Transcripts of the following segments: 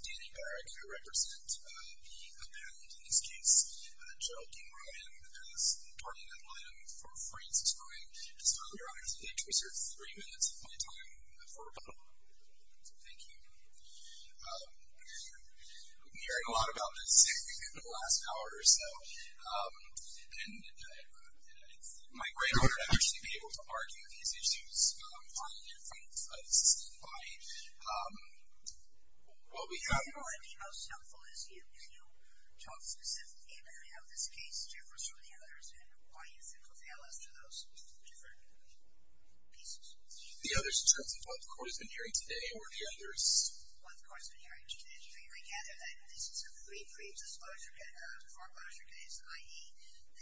Danny Barrick In order to actually be able to argue these issues, finally and frankly, this is the invite. What we have... You know what would be most helpful is you talk specifically about how this case differs from the others and why you think will fail us to those different pieces. The others in terms of what the court has been hearing today or the others... What the court has been hearing today. I gather that this is a pre-disclosure foreclosure case, i.e.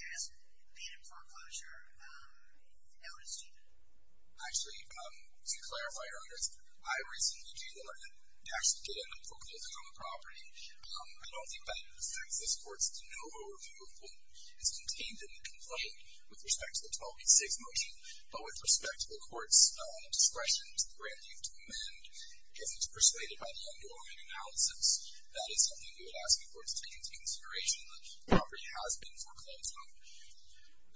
there has been a foreclosure notice to you. Actually, to clarify, Your Honor, I recently did not actually get a booklet on the property. I don't think that it affects this court's no overview of what is contained in the complaint with respect to the 1286 motion. But with respect to the court's discretion to grant leave to amend if it's persuaded by the underlying analysis, that is something we would ask the court to take into consideration that the property has been foreclosed on.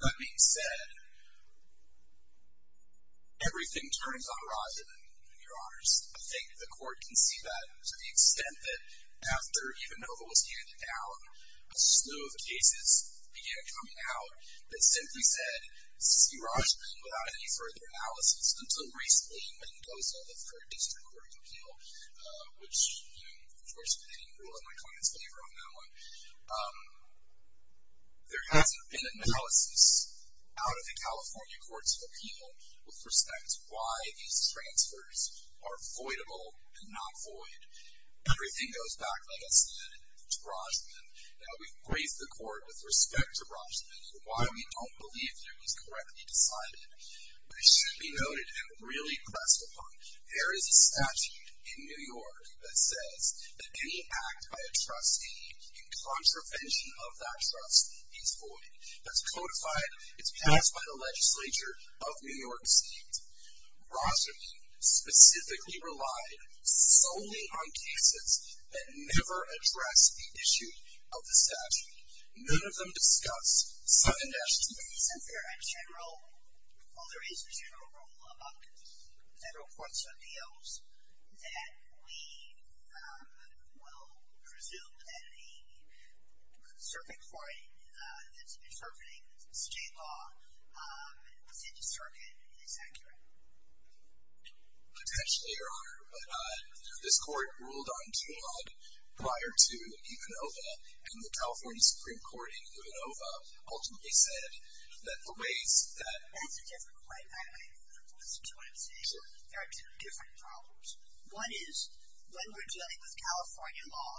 That being said, everything turns on Roslyn, Your Honors. I think the court can see that to the extent that after even though it was handed down, a slew of cases began coming out that simply said see Roslyn without any further analysis until recently when it goes over for a district court appeal, which, of course, I didn't rule in my client's favor on that one. There hasn't been analysis out of the California Courts of Appeal with respect to why these transfers are voidable and not void. Everything goes back, like I said, to Roslyn. Now, we've graced the court with respect to Roslyn and why we don't believe he was correctly decided, but it should be noted and really pressed upon. There is a statute in New York that says that any act by a trustee in contravention of that trust is void. That's codified. It's passed by the legislature of New York State. Roslyn specifically relied solely on cases that never addressed the issue of the statute. None of them discuss sudden actions. Isn't there a general, while there is a general rule about Federal Courts of Appeals, that we will presume that a circuit court that's interpreting state law, let's say the circuit, is accurate? Potentially, Your Honor. But this court ruled on Tlog prior to Econova, and the California Supreme Court in Econova ultimately said that the ways that the That's a different point. Listen to what I'm saying. Sure. There are two different problems. One is, when we're dealing with California law,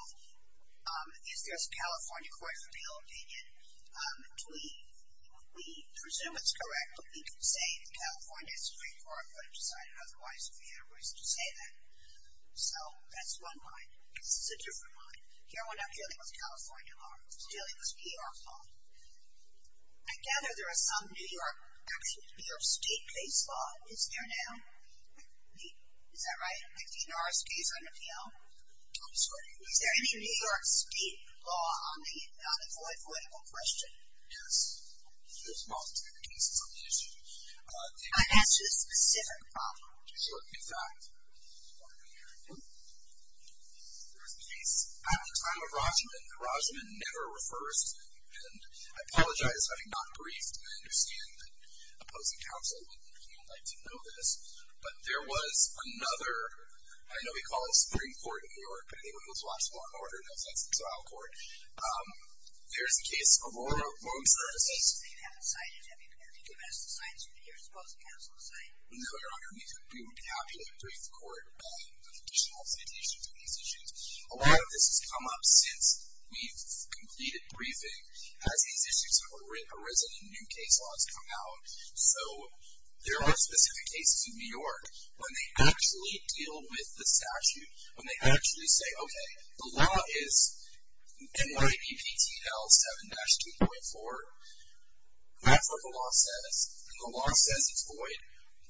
if there's a California Court of Appeal being in between, we presume it's correct when we can say the California Supreme Court would have decided otherwise if we had a voice to say that. So that's one line. This is a different line. Here we're not dealing with California law. We're dealing with New York law. I gather there is some New York, actually New York State case law. Is there now? Is that right? Is there a New York State case on appeal? I'm sorry? Is there any New York State law on the voidable question? Yes. There's multiple cases on the issue. I asked you a specific problem. Sure. In fact, there was a case at the time of Rajman. Rajman never refers to me. And I apologize if I'm not briefed. I understand that opposing counsel wouldn't like to know this. But there was another, I know we call it the Supreme Court of New York, but I think it was a lot smaller in order. No, that's the trial court. There's a case of loan services. They haven't cited it. Have you given us the signs that you're opposing counsel to cite? No, Your Honor. We would be happy to brief the court on additional citations on these issues. A lot of this has come up since we've completed briefing. As these issues have arisen and new case laws come out, so there are specific cases in New York when they actually deal with the statute, when they actually say, okay, the law is NYBPTL 7-2.4. That's what the law says. And the law says it's void.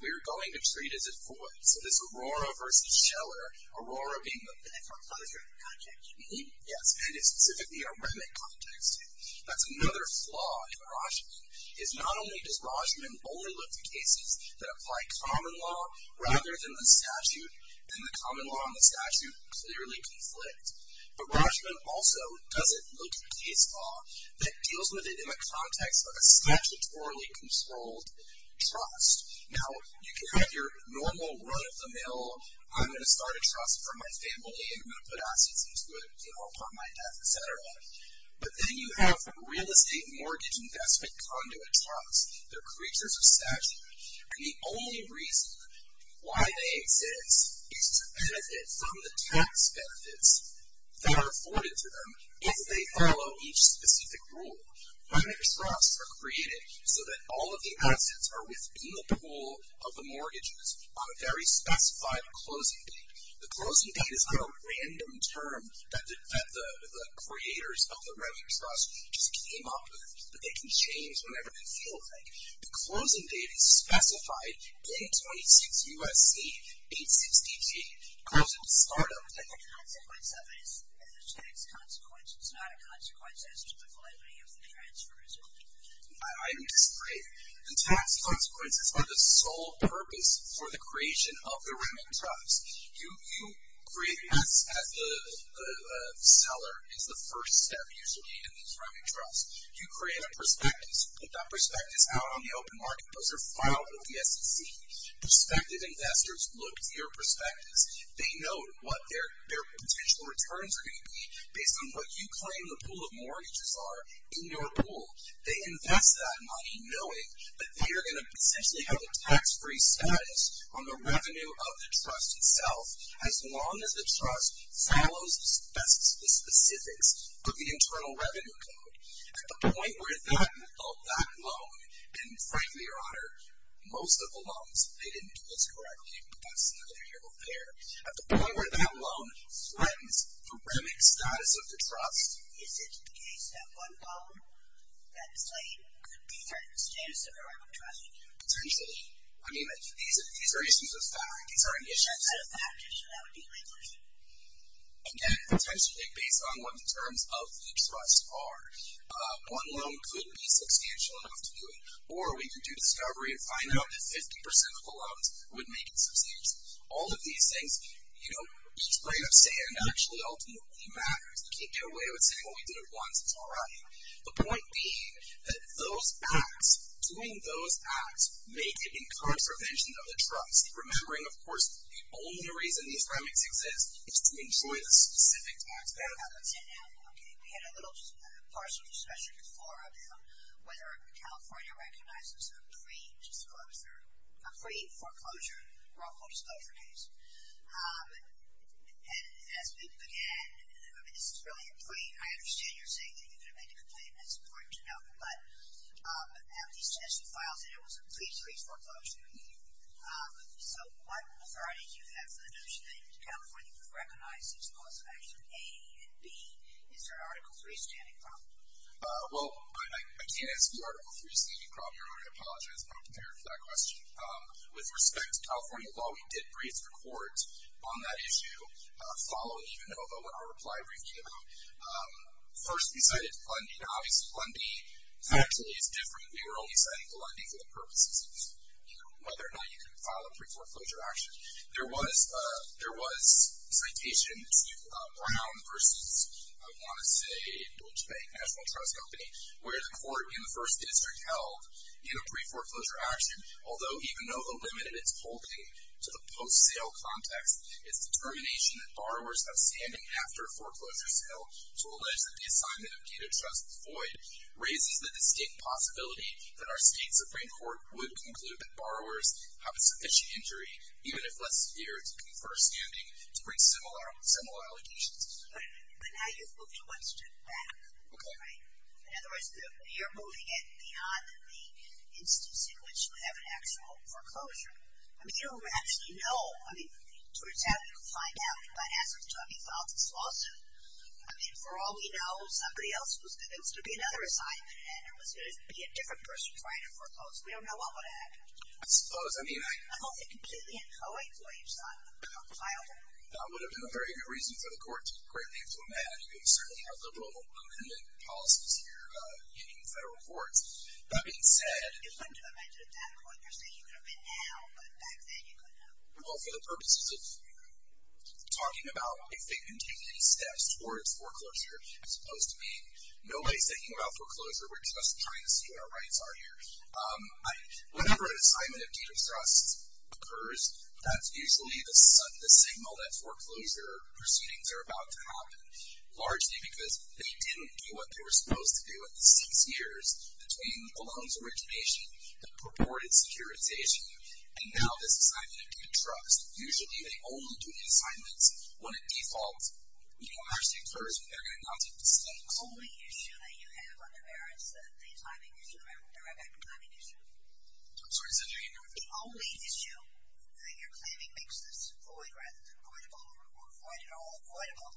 We're going to treat it as void. So this Aurora v. Scheller, Aurora being the pen. Yes, and it's specifically a remit context. That's another flaw in Rajman, is not only does Rajman only look to cases that apply common law rather than statute, then the common law and the statute clearly conflict. But Rajman also doesn't look at a case law that deals with it in the context of a statutorily controlled trust. Now, you can have your normal run-of-the-mill, I'm going to start a trust for my family and I'm going to put assets into it, you know, upon my death, et cetera. But then you have real estate mortgage investment conduit trusts. They're creatures of statute. And the only reason why they exist is to benefit from the tax benefits that are afforded to them if they follow each specific rule. Run-of-the-mill trusts are created so that all of the assets are within the pool of the mortgages on a very specified closing date. The closing date is not a random term that the creators of the run-of-the-mill trust just came up with that they can change whenever they feel like. The closing date is specified, 826 U.S.C., 860 G, closing start-up date. The consequence of it is a tax consequence. It's not a consequence as to the quality of the transfer, is it? I disagree. The tax consequences are the sole purpose for the creation of the running trust. You create assets at the seller is the first step usually in these running trusts. You create a prospectus. Put that prospectus out on the open market. Those are filed with the SEC. Prospective investors look to your prospectus. They know what their potential returns are going to be based on what you claim the pool of mortgages are in your pool. They invest that money knowing that they are going to essentially have a tax-free status on the revenue of the trust itself as long as the trust follows the specifics of the Internal Revenue Code. At the point where that loan, and frankly, Your Honor, most of the loans, they didn't do this correctly, but that's another area over there. At the point where that loan threatens the remit status of the trust. Is it the case that one loan that's late could be threatened the status of the running trust? Potentially. I mean, these are issues of fact. These are issues. Instead of factors, that would be legal issues. Again, potentially based on what the terms of the trust are. One loan could be substantial enough to do it. Or we could do discovery and find out if 50% of the loans would make it substantial. All of these things, you know, each grain of sand actually ultimately matters. You can't get away with saying, well, we did it once. It's all right. The point being that those acts, doing those acts, may give incurred prevention of the trust. Remembering, of course, the only reason these remits exist is to enjoy the specific aspect. Okay. We had a little partial discussion before about whether California recognizes a pre-disclosure, a pre-foreclosure, or a post-disclosure case. And as we began, I mean, this is really a pre. I understand you're saying that you're going to make a complaint. That's important to know. But out of these test files, there was a pre-foreclosure. So what authority do you have for the notion that California would recognize these laws of action A and B? Is there an Article III standing problem? Well, I can't answer the Article III standing problem. I apologize if I don't prepare for that question. With respect to California law, we did brief the court on that issue, following even though our reply brief came out. First, we cited Fund B. Now, obviously, Fund B actually is different. We were only citing Fund B for the purposes of whether or not you can file a pre-foreclosure action. There was a citation to Brown versus, I want to say, Deutsche Bank National Trust Company, where the court in the first district held in a pre-foreclosure action, although even though the limit of its holding to the post-sale context is determination that borrowers have standing after a foreclosure sale, to allege that the assignment of data trust is void, raises the distinct possibility that our state Supreme Court would conclude that borrowers have a sufficient injury, even if less severe, to confer standing to bring similar allegations. But now you've moved one step back, right? In other words, you're moving it beyond the instances in which you have an actual foreclosure. I mean, you don't actually know. I mean, to a extent, we could find out. But as it's to a default, it's false. I mean, for all we know, somebody else was convinced there would be another assignment, and there was going to be a different person trying to foreclose. We don't know what would happen. I suppose. I mean, I... I don't think completely. I'll wait for you to decide how to file it. That would have been a very good reason for the court to greatly implement certainly our liberal amendment policies here in federal courts. That being said... It's fun to imagine at that point, you're saying you could have been now, but back then you couldn't have. Well, for the purposes of talking about if they can take any steps towards foreclosure as opposed to being, nobody's thinking about foreclosure. We're just trying to see what our rights are here. Whenever an assignment of due distress occurs, that's usually the signal that foreclosure proceedings are about to happen, largely because they didn't do what they were supposed to do in the six years between the loan's origination, the purported securitization. And now this assignment of due distrust. Usually they only do the assignments when a default actually occurs and they're going to not take the stakes. The only issue that you have on your merits, the timing issue, right back to the timing issue. I'm sorry. Say it again. The only issue that you're claiming makes this void rather than avoidable or void at all avoidable,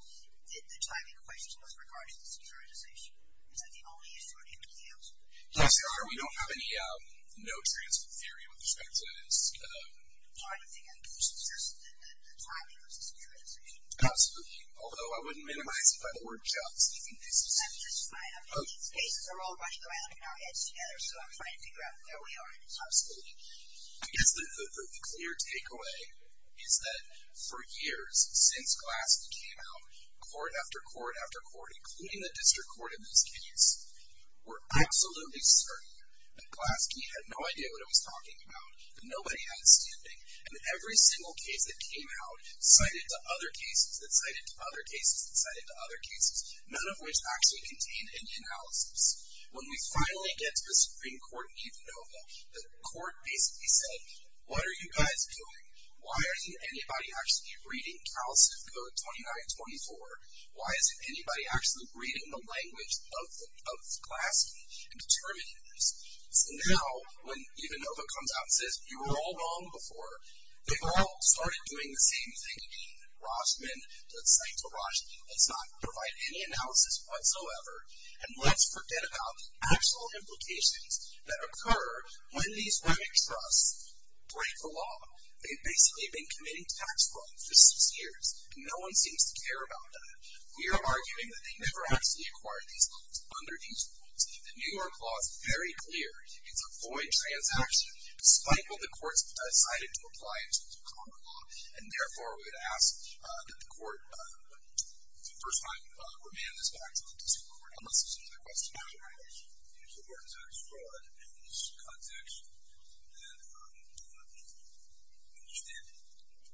the timing question with regard to the securitization. Is that the only issue or do you have anything else? Yes, sir. We don't have any no transfer theory with respect to this. I don't think anything. It's just the timing versus the securitization. Absolutely. Although I wouldn't minimize it by the word just. I think this is fine. I mean, these cases are all running around in our heads together, so I'm trying to figure out where we are. Absolutely. I guess the clear takeaway is that for years, since Glassman came out, court after court after court, including the district court in this case, were absolutely certain that Glaske had no idea what he was talking about, that nobody had a standing, and that every single case that came out cited to other cases, that cited to other cases, that cited to other cases, none of which actually contained Indian analysis. When we finally get to the Supreme Court in Eta Nova, the court basically said, what are you guys doing? Why isn't anybody actually reading CalCIF Code 2924? Why isn't anybody actually reading the language of Glaske and determining this? So now, when Eta Nova comes out and says, you were all wrong before, they've all started doing the same thing again. Rossman, let's cite to Ross, let's not provide any analysis whatsoever, and let's forget about the actual implications that occur when these women's trusts break the law. They've basically been committing tax fraud for six years, and no one seems to care about that. We are arguing that they never actually acquired these loans under these rules. The New York law is very clear. It's a void transaction, despite what the courts have decided to apply in terms of common law, and therefore, we would ask that the court, the first time, remand this back to the District Court, unless there's some other questions. The question is, do you support tax fraud in this context? And I'm not sure I understand it.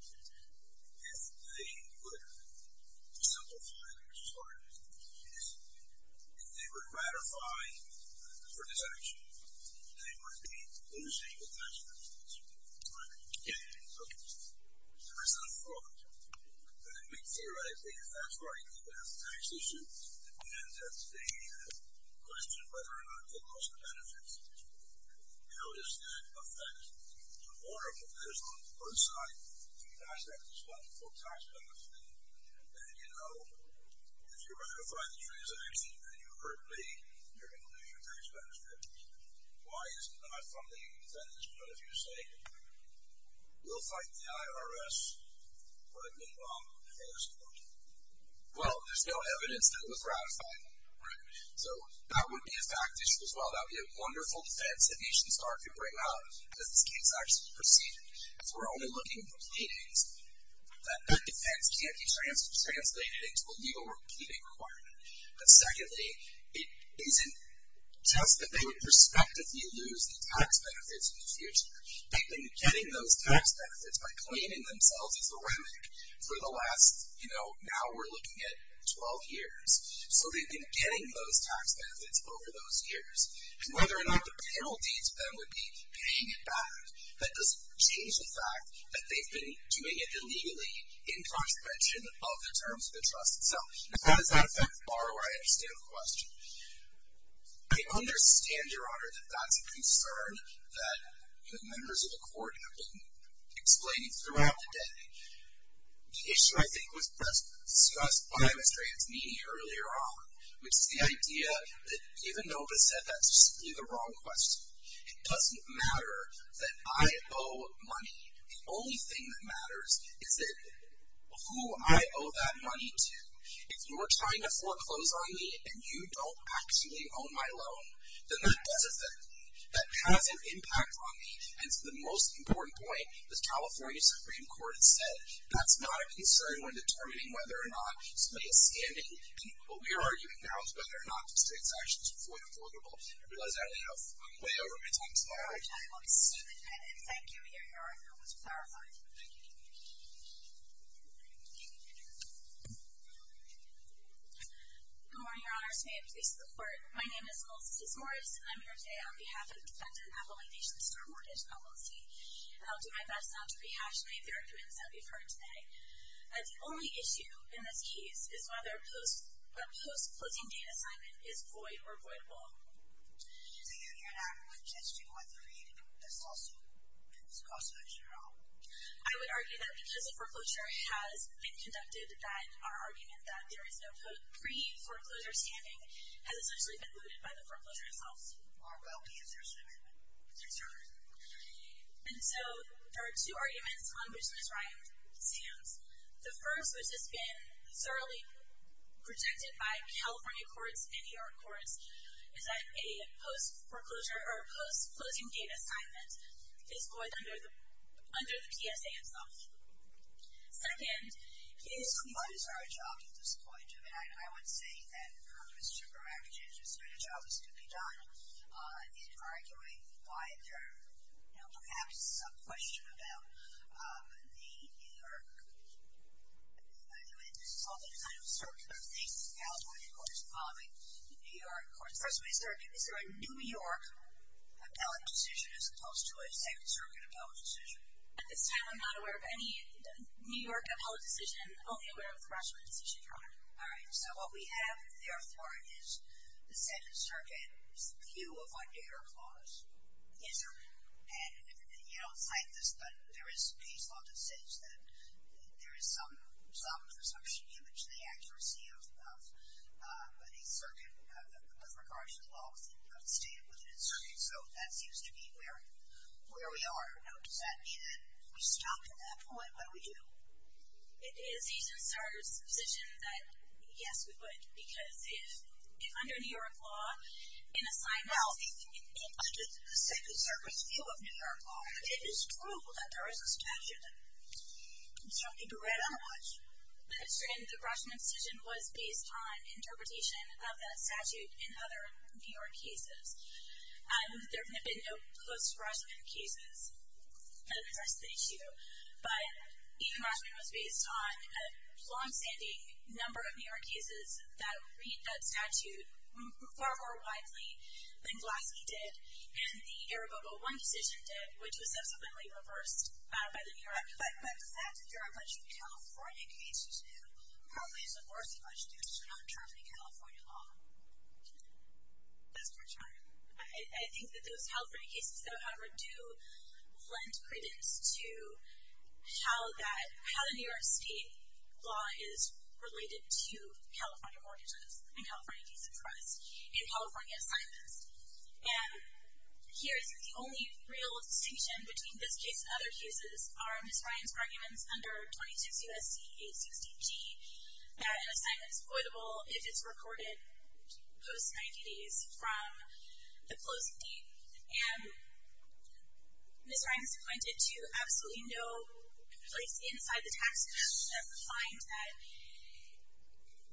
If they were to simplify this part of it, if they were to ratify for this action, they would be losing the tax benefits, right? Okay. So that's not a fraud. And we theorize that if that's right, then that's the question, whether or not they lost the benefits. How does that affect the order for this on both sides? Do you guys have a responsible tax benefit? And then, you know, if you ratify the transaction and you hurt me, you're going to lose your tax benefits. Why is it not from the defendants? Because if you're saying, we'll fight the IRS, what would be wrong with the IRS reporting? Well, there's no evidence that it was ratified, right? So that would be a fact issue as well. That would be a wonderful defense that Nation Star could bring out, because this case actually proceeded. If we're only looking at the pleadings, that defense can't be translated into a legal repeating requirement. But secondly, it isn't just that they would prospectively lose the tax benefits in the future. They've been getting those tax benefits by claiming themselves as a remnant for the last, you know, now we're looking at 12 years. So they've been getting those tax benefits over those years. And whether or not the penalty to them would be paying it back, that doesn't change the fact that they've been doing it illegally in contravention of the terms of the trust itself. Now, how does that affect the borrower? I understand the question. I understand, Your Honor, that that's a concern that the members of the court have been explaining throughout the day. The issue, I think, was discussed by Ms. Dranzini earlier on, which is the idea that even though it was said, that's simply the wrong question. It doesn't matter that I owe money. The only thing that matters is who I owe that money to. If you're trying to foreclose on me and you don't actually own my loan, then that doesn't affect me. That has an impact on me. And to the most important point, the California Supreme Court has said that's not a concern when determining whether or not somebody is standing. And what we are arguing now is whether or not these tax actions are fully affordable. I realize I only have way over my time today. All right. Thank you, Your Honor. That was clarifying. Thank you. Thank you. Good morning, Your Honor. May it please the Court. My name is Melissa Tismorris, and I'm here today on behalf of the defendant, Appalachian Star Mortgage Company, and I'll do my best not to rehash any of the arguments that we've heard today. The only issue in this case is whether a post-closing date assignment is void or voidable. So you're not suggesting whether we discussed this issue at all? I would argue that because the foreclosure has been conducted, that our argument that there is no pre-foreclosure standing has essentially been voodooed by the foreclosure itself. Are well-measured statement. Yes, sir. And so there are two arguments on which Ms. Ryan stands. The first, which has been thoroughly protected by California courts and New York courts, is that a post-foreclosure or a post-closing date assignment is void under the PSA itself. Second is we could. So what is our job at this point? I would say that the purpose of a mortgage is that a job is to be done in arguing why there perhaps is some question about the New York and this is sort of a circular thing. California courts and New York courts. First of all, is there a New York appellate decision as opposed to a New York appellate decision? At this time, I'm not aware of any New York appellate decision. I'm only aware of the Rashomon decision, Your Honor. All right. So what we have there for it is the Second Circuit's view of our data clause. Yes, sir. And you don't cite this, but there is case law that says that there is some presumption given to the accuracy of the circuit with regard to the laws that are stated within the circuit. All right. So that seems to be where we are. Now, does that mean that we stop at that point? What do we do? It is a decision that, yes, we would. Because if under New York law, in a sign of the Second Circuit's view of New York law, it is true that there is a statute. You don't need to read on it much. The Rashomon decision was based on interpretation of that statute in other New York cases. There have been no close Rashomon cases that address the issue. But even Rashomon was based on a long-standing number of New York cases that read that statute far more widely than Vlasky did and the Iribopo-1 decision did, which was subsequently reversed by the New York Act. But does that deter a bunch of California cases, who probably is the worst bunch due to non-terms in California law? That's a good question. I think that those California cases, though, however, do lend credence to how the New York state law is related to California mortgages and California decent trust in California assignments. And here is the only real distinction between this case and other cases are Ms. Ryan's arguments under 26 U.S.C.A. 60G that an assignment is recorded post-90 days from the closing date. And Ms. Ryan has pointed to absolutely no place inside the tax code that finds that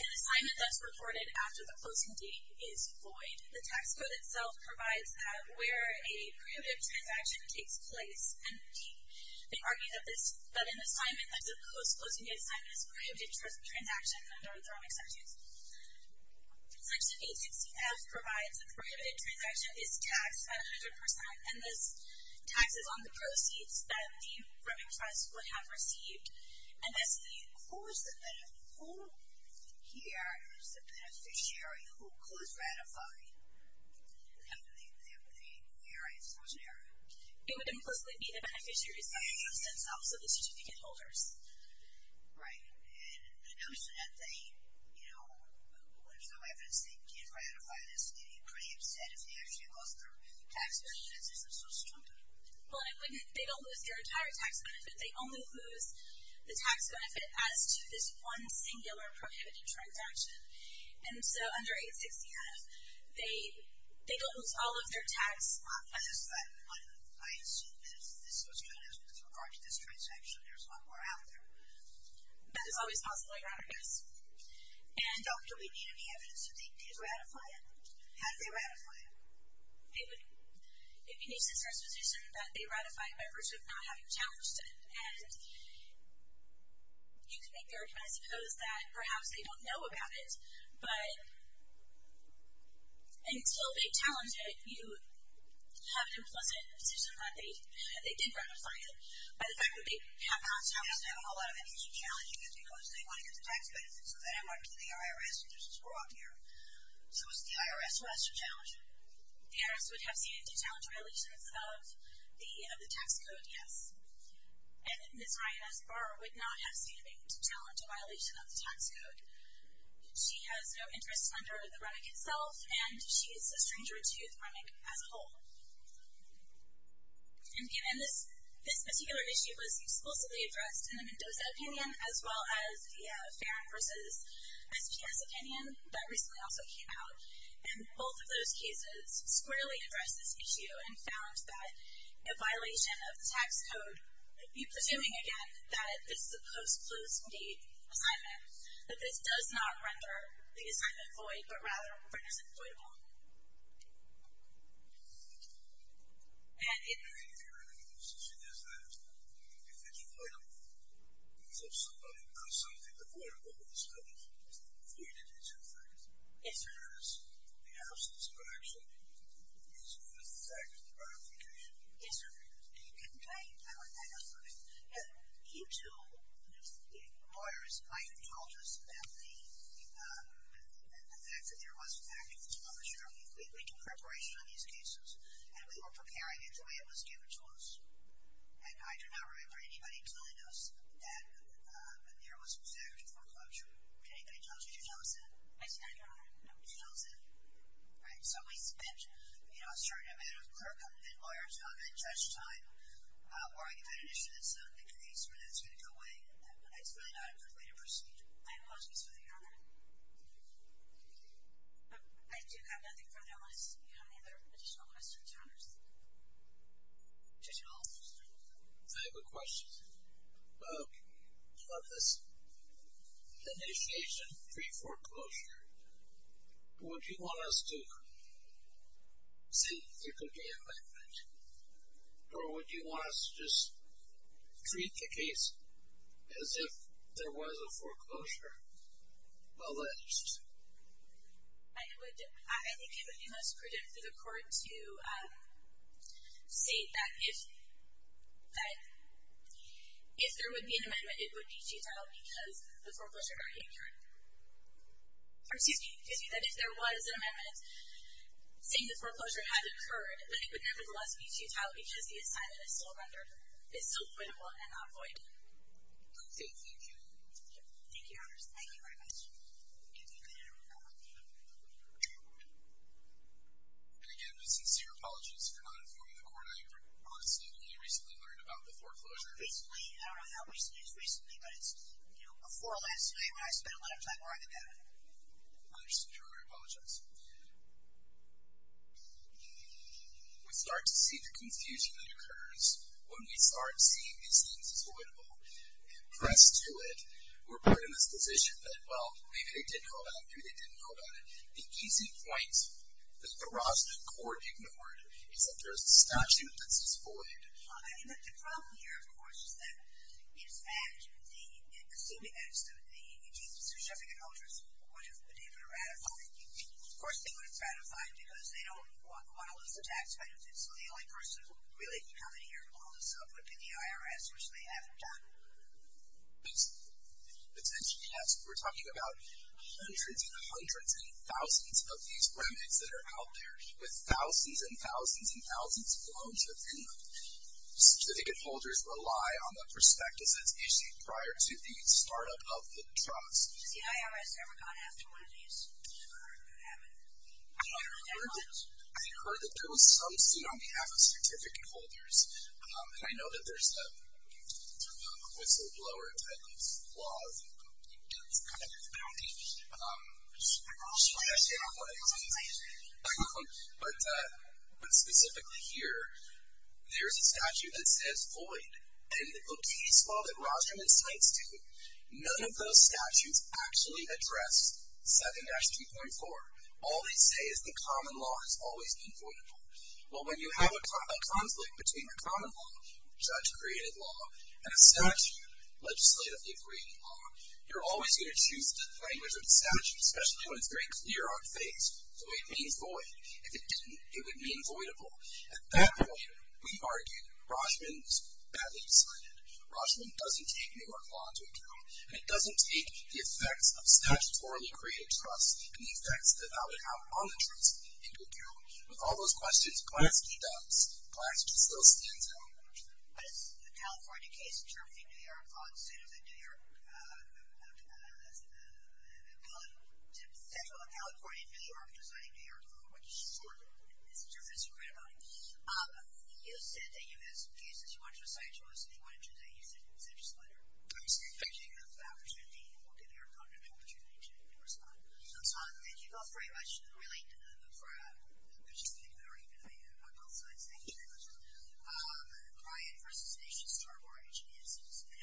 an assignment that's recorded after the closing date is void. The tax code itself provides that where a prohibitive transaction takes place. And they argue that an assignment that's a post-closing date assignment is a prohibitive transaction under the thermic statute. Section 860-F provides that the prohibitive transaction is taxed at 100%. And this tax is on the proceeds that the prohibitive trust would have received. And that's the who is the beneficiary? Who here is the beneficiary? Who is ratifying the ERA exclusionary? It would implicitly be the beneficiaries, that's also the certificate holders. Right. And the notion that they, you know, there's no evidence they can ratify this, you'd be pretty upset if they actually lost their tax benefits. This is so stupid. Well, they don't lose their entire tax benefit. They only lose the tax benefit as to this one singular prohibitive transaction. And so under 860-F, they don't lose all of their tax. I assume that this was done as with regard to this transaction. There's a lot more out there. That is always possible, I guess. And don't we need any evidence that they did ratify it? Had they ratified it? It would, it would use this presupposition that they ratified by virtue of not having challenged it. And you could make the argument, I suppose, that perhaps they don't know about it. But until they challenge it, you have an implicit position that they did ratify it. By the fact that they have not challenged it. They have to have a whole lot of evidence challenging it because they want to get the tax benefits. So then it went to the IRS, and there's a squirrel up here. So it's the IRS who has to challenge it. The IRS would have standing to challenge violations of the tax code, yes. And Ms. Ryan S. Barr would not have standing to challenge a violation of the tax code. She has no interest under the remic itself, and she is a stranger to the remic as a whole. And this particular issue was explicitly addressed in the Mendoza opinion, as well as the Farron versus SPS opinion that recently also came out. And both of those cases squarely addressed this issue and found that a violation of the tax code would be presuming, again, that this is a post-closed date assignment. That this does not render the assignment void, but rather renders it voidable. And if you're in a position as that, if it's voidable, because somebody consulted the board about this, voidage is in effect. Yes, sir. Whereas the absence of action is in effect ratification. Yes, sir. Okay. You two lawyers might have told us about the fact that there was factual closure. We do preparation on these cases, and we were preparing it the way it was given to us. And I do not remember anybody telling us that there was factual closure. Did anybody tell us? Did you tell us that? I said I don't remember. No. So we spent a certain amount of clerical and lawyer time and judge time arguing about an issue that's not in the case or that's going to go away. It's really not a good way to proceed. I apologize for the error. I do have nothing further unless you have any other additional questions, Your Honors. Judge Hall. I have a question about this initiation pre-foreclosure. Would you want us to say there could be an amendment, or would you want us to just treat the case as if there was a foreclosure alleged? I think it would be most prudent for the court to say that if there would be an amendment, it would be futile because the foreclosure got incurred. Excuse me, that if there was an amendment saying the foreclosure had occurred, then it would nevertheless be futile because the assignment is still renderable and not void. Thank you. Thank you, Your Honors. Thank you very much. And again, my sincere apologies for not informing the court. I honestly only recently learned about the foreclosure. Recently? I don't know how much news recently, but it's, you know, before last night when I spent a lot of time arguing that. I understand. I apologize. We start to see the confusion that occurs when we start seeing these things as voidable, pressed to it. We're put in this position that, well, maybe they didn't know about it, maybe they didn't know about it. The easy point that the Rosner Court ignored is that there is a statute that says void. I mean, the problem here, of course, is that, in fact, the executives of the EGCS would have been able to ratify it. Of course, they wouldn't ratify it because they don't want to lose the tax benefits. So the only person who really can come in here and pull this up would be the IRS, which they haven't done. But since you asked, we're talking about hundreds and hundreds and thousands of these remnants that are out there with thousands and thousands of them. Certificate holders rely on the prospectus that's issued prior to the start-up of the trust. Has the IRS ever gone after one of these? I haven't. I heard that there was some suit on behalf of certificate holders. And I know that there's a whistleblower type of laws, and it's kind of a bounty. But specifically here, there's a statute that says void. And in the case law that Rostrom and Sites do, none of those statutes actually address 7-3.4. All they say is the common law has always been voidable. Well, when you have a conflict between a common law, judge-created law, and a statute, legislatively-created law, you're always going to choose the language of the statute, especially when it's very clear on things. So it means void. If it didn't, it would mean voidable. At that point, we argued Rochman was badly decided. Rochman doesn't take New York law into account, and it doesn't take the effects of statutorily-created trust and the effects that that would have on the trust into account. With all those questions, Glasky does. Glasky still stands out. What is the California case in terms of the New York law instead of the New York law? It's essentially California and New York designing New York law, which is sort of what the message is. That's great about it. You said that you wanted to do a scientific choice, and you wanted to do that. You said just later. I'm just going to take the opportunity and we'll give you an opportunity to respond. So, Todd, thank you both very much, really, for participating. I've already been on both sides. Thank you very much. Ryan versus Asha Starbuck. Asha, do you have something to add? Thank you.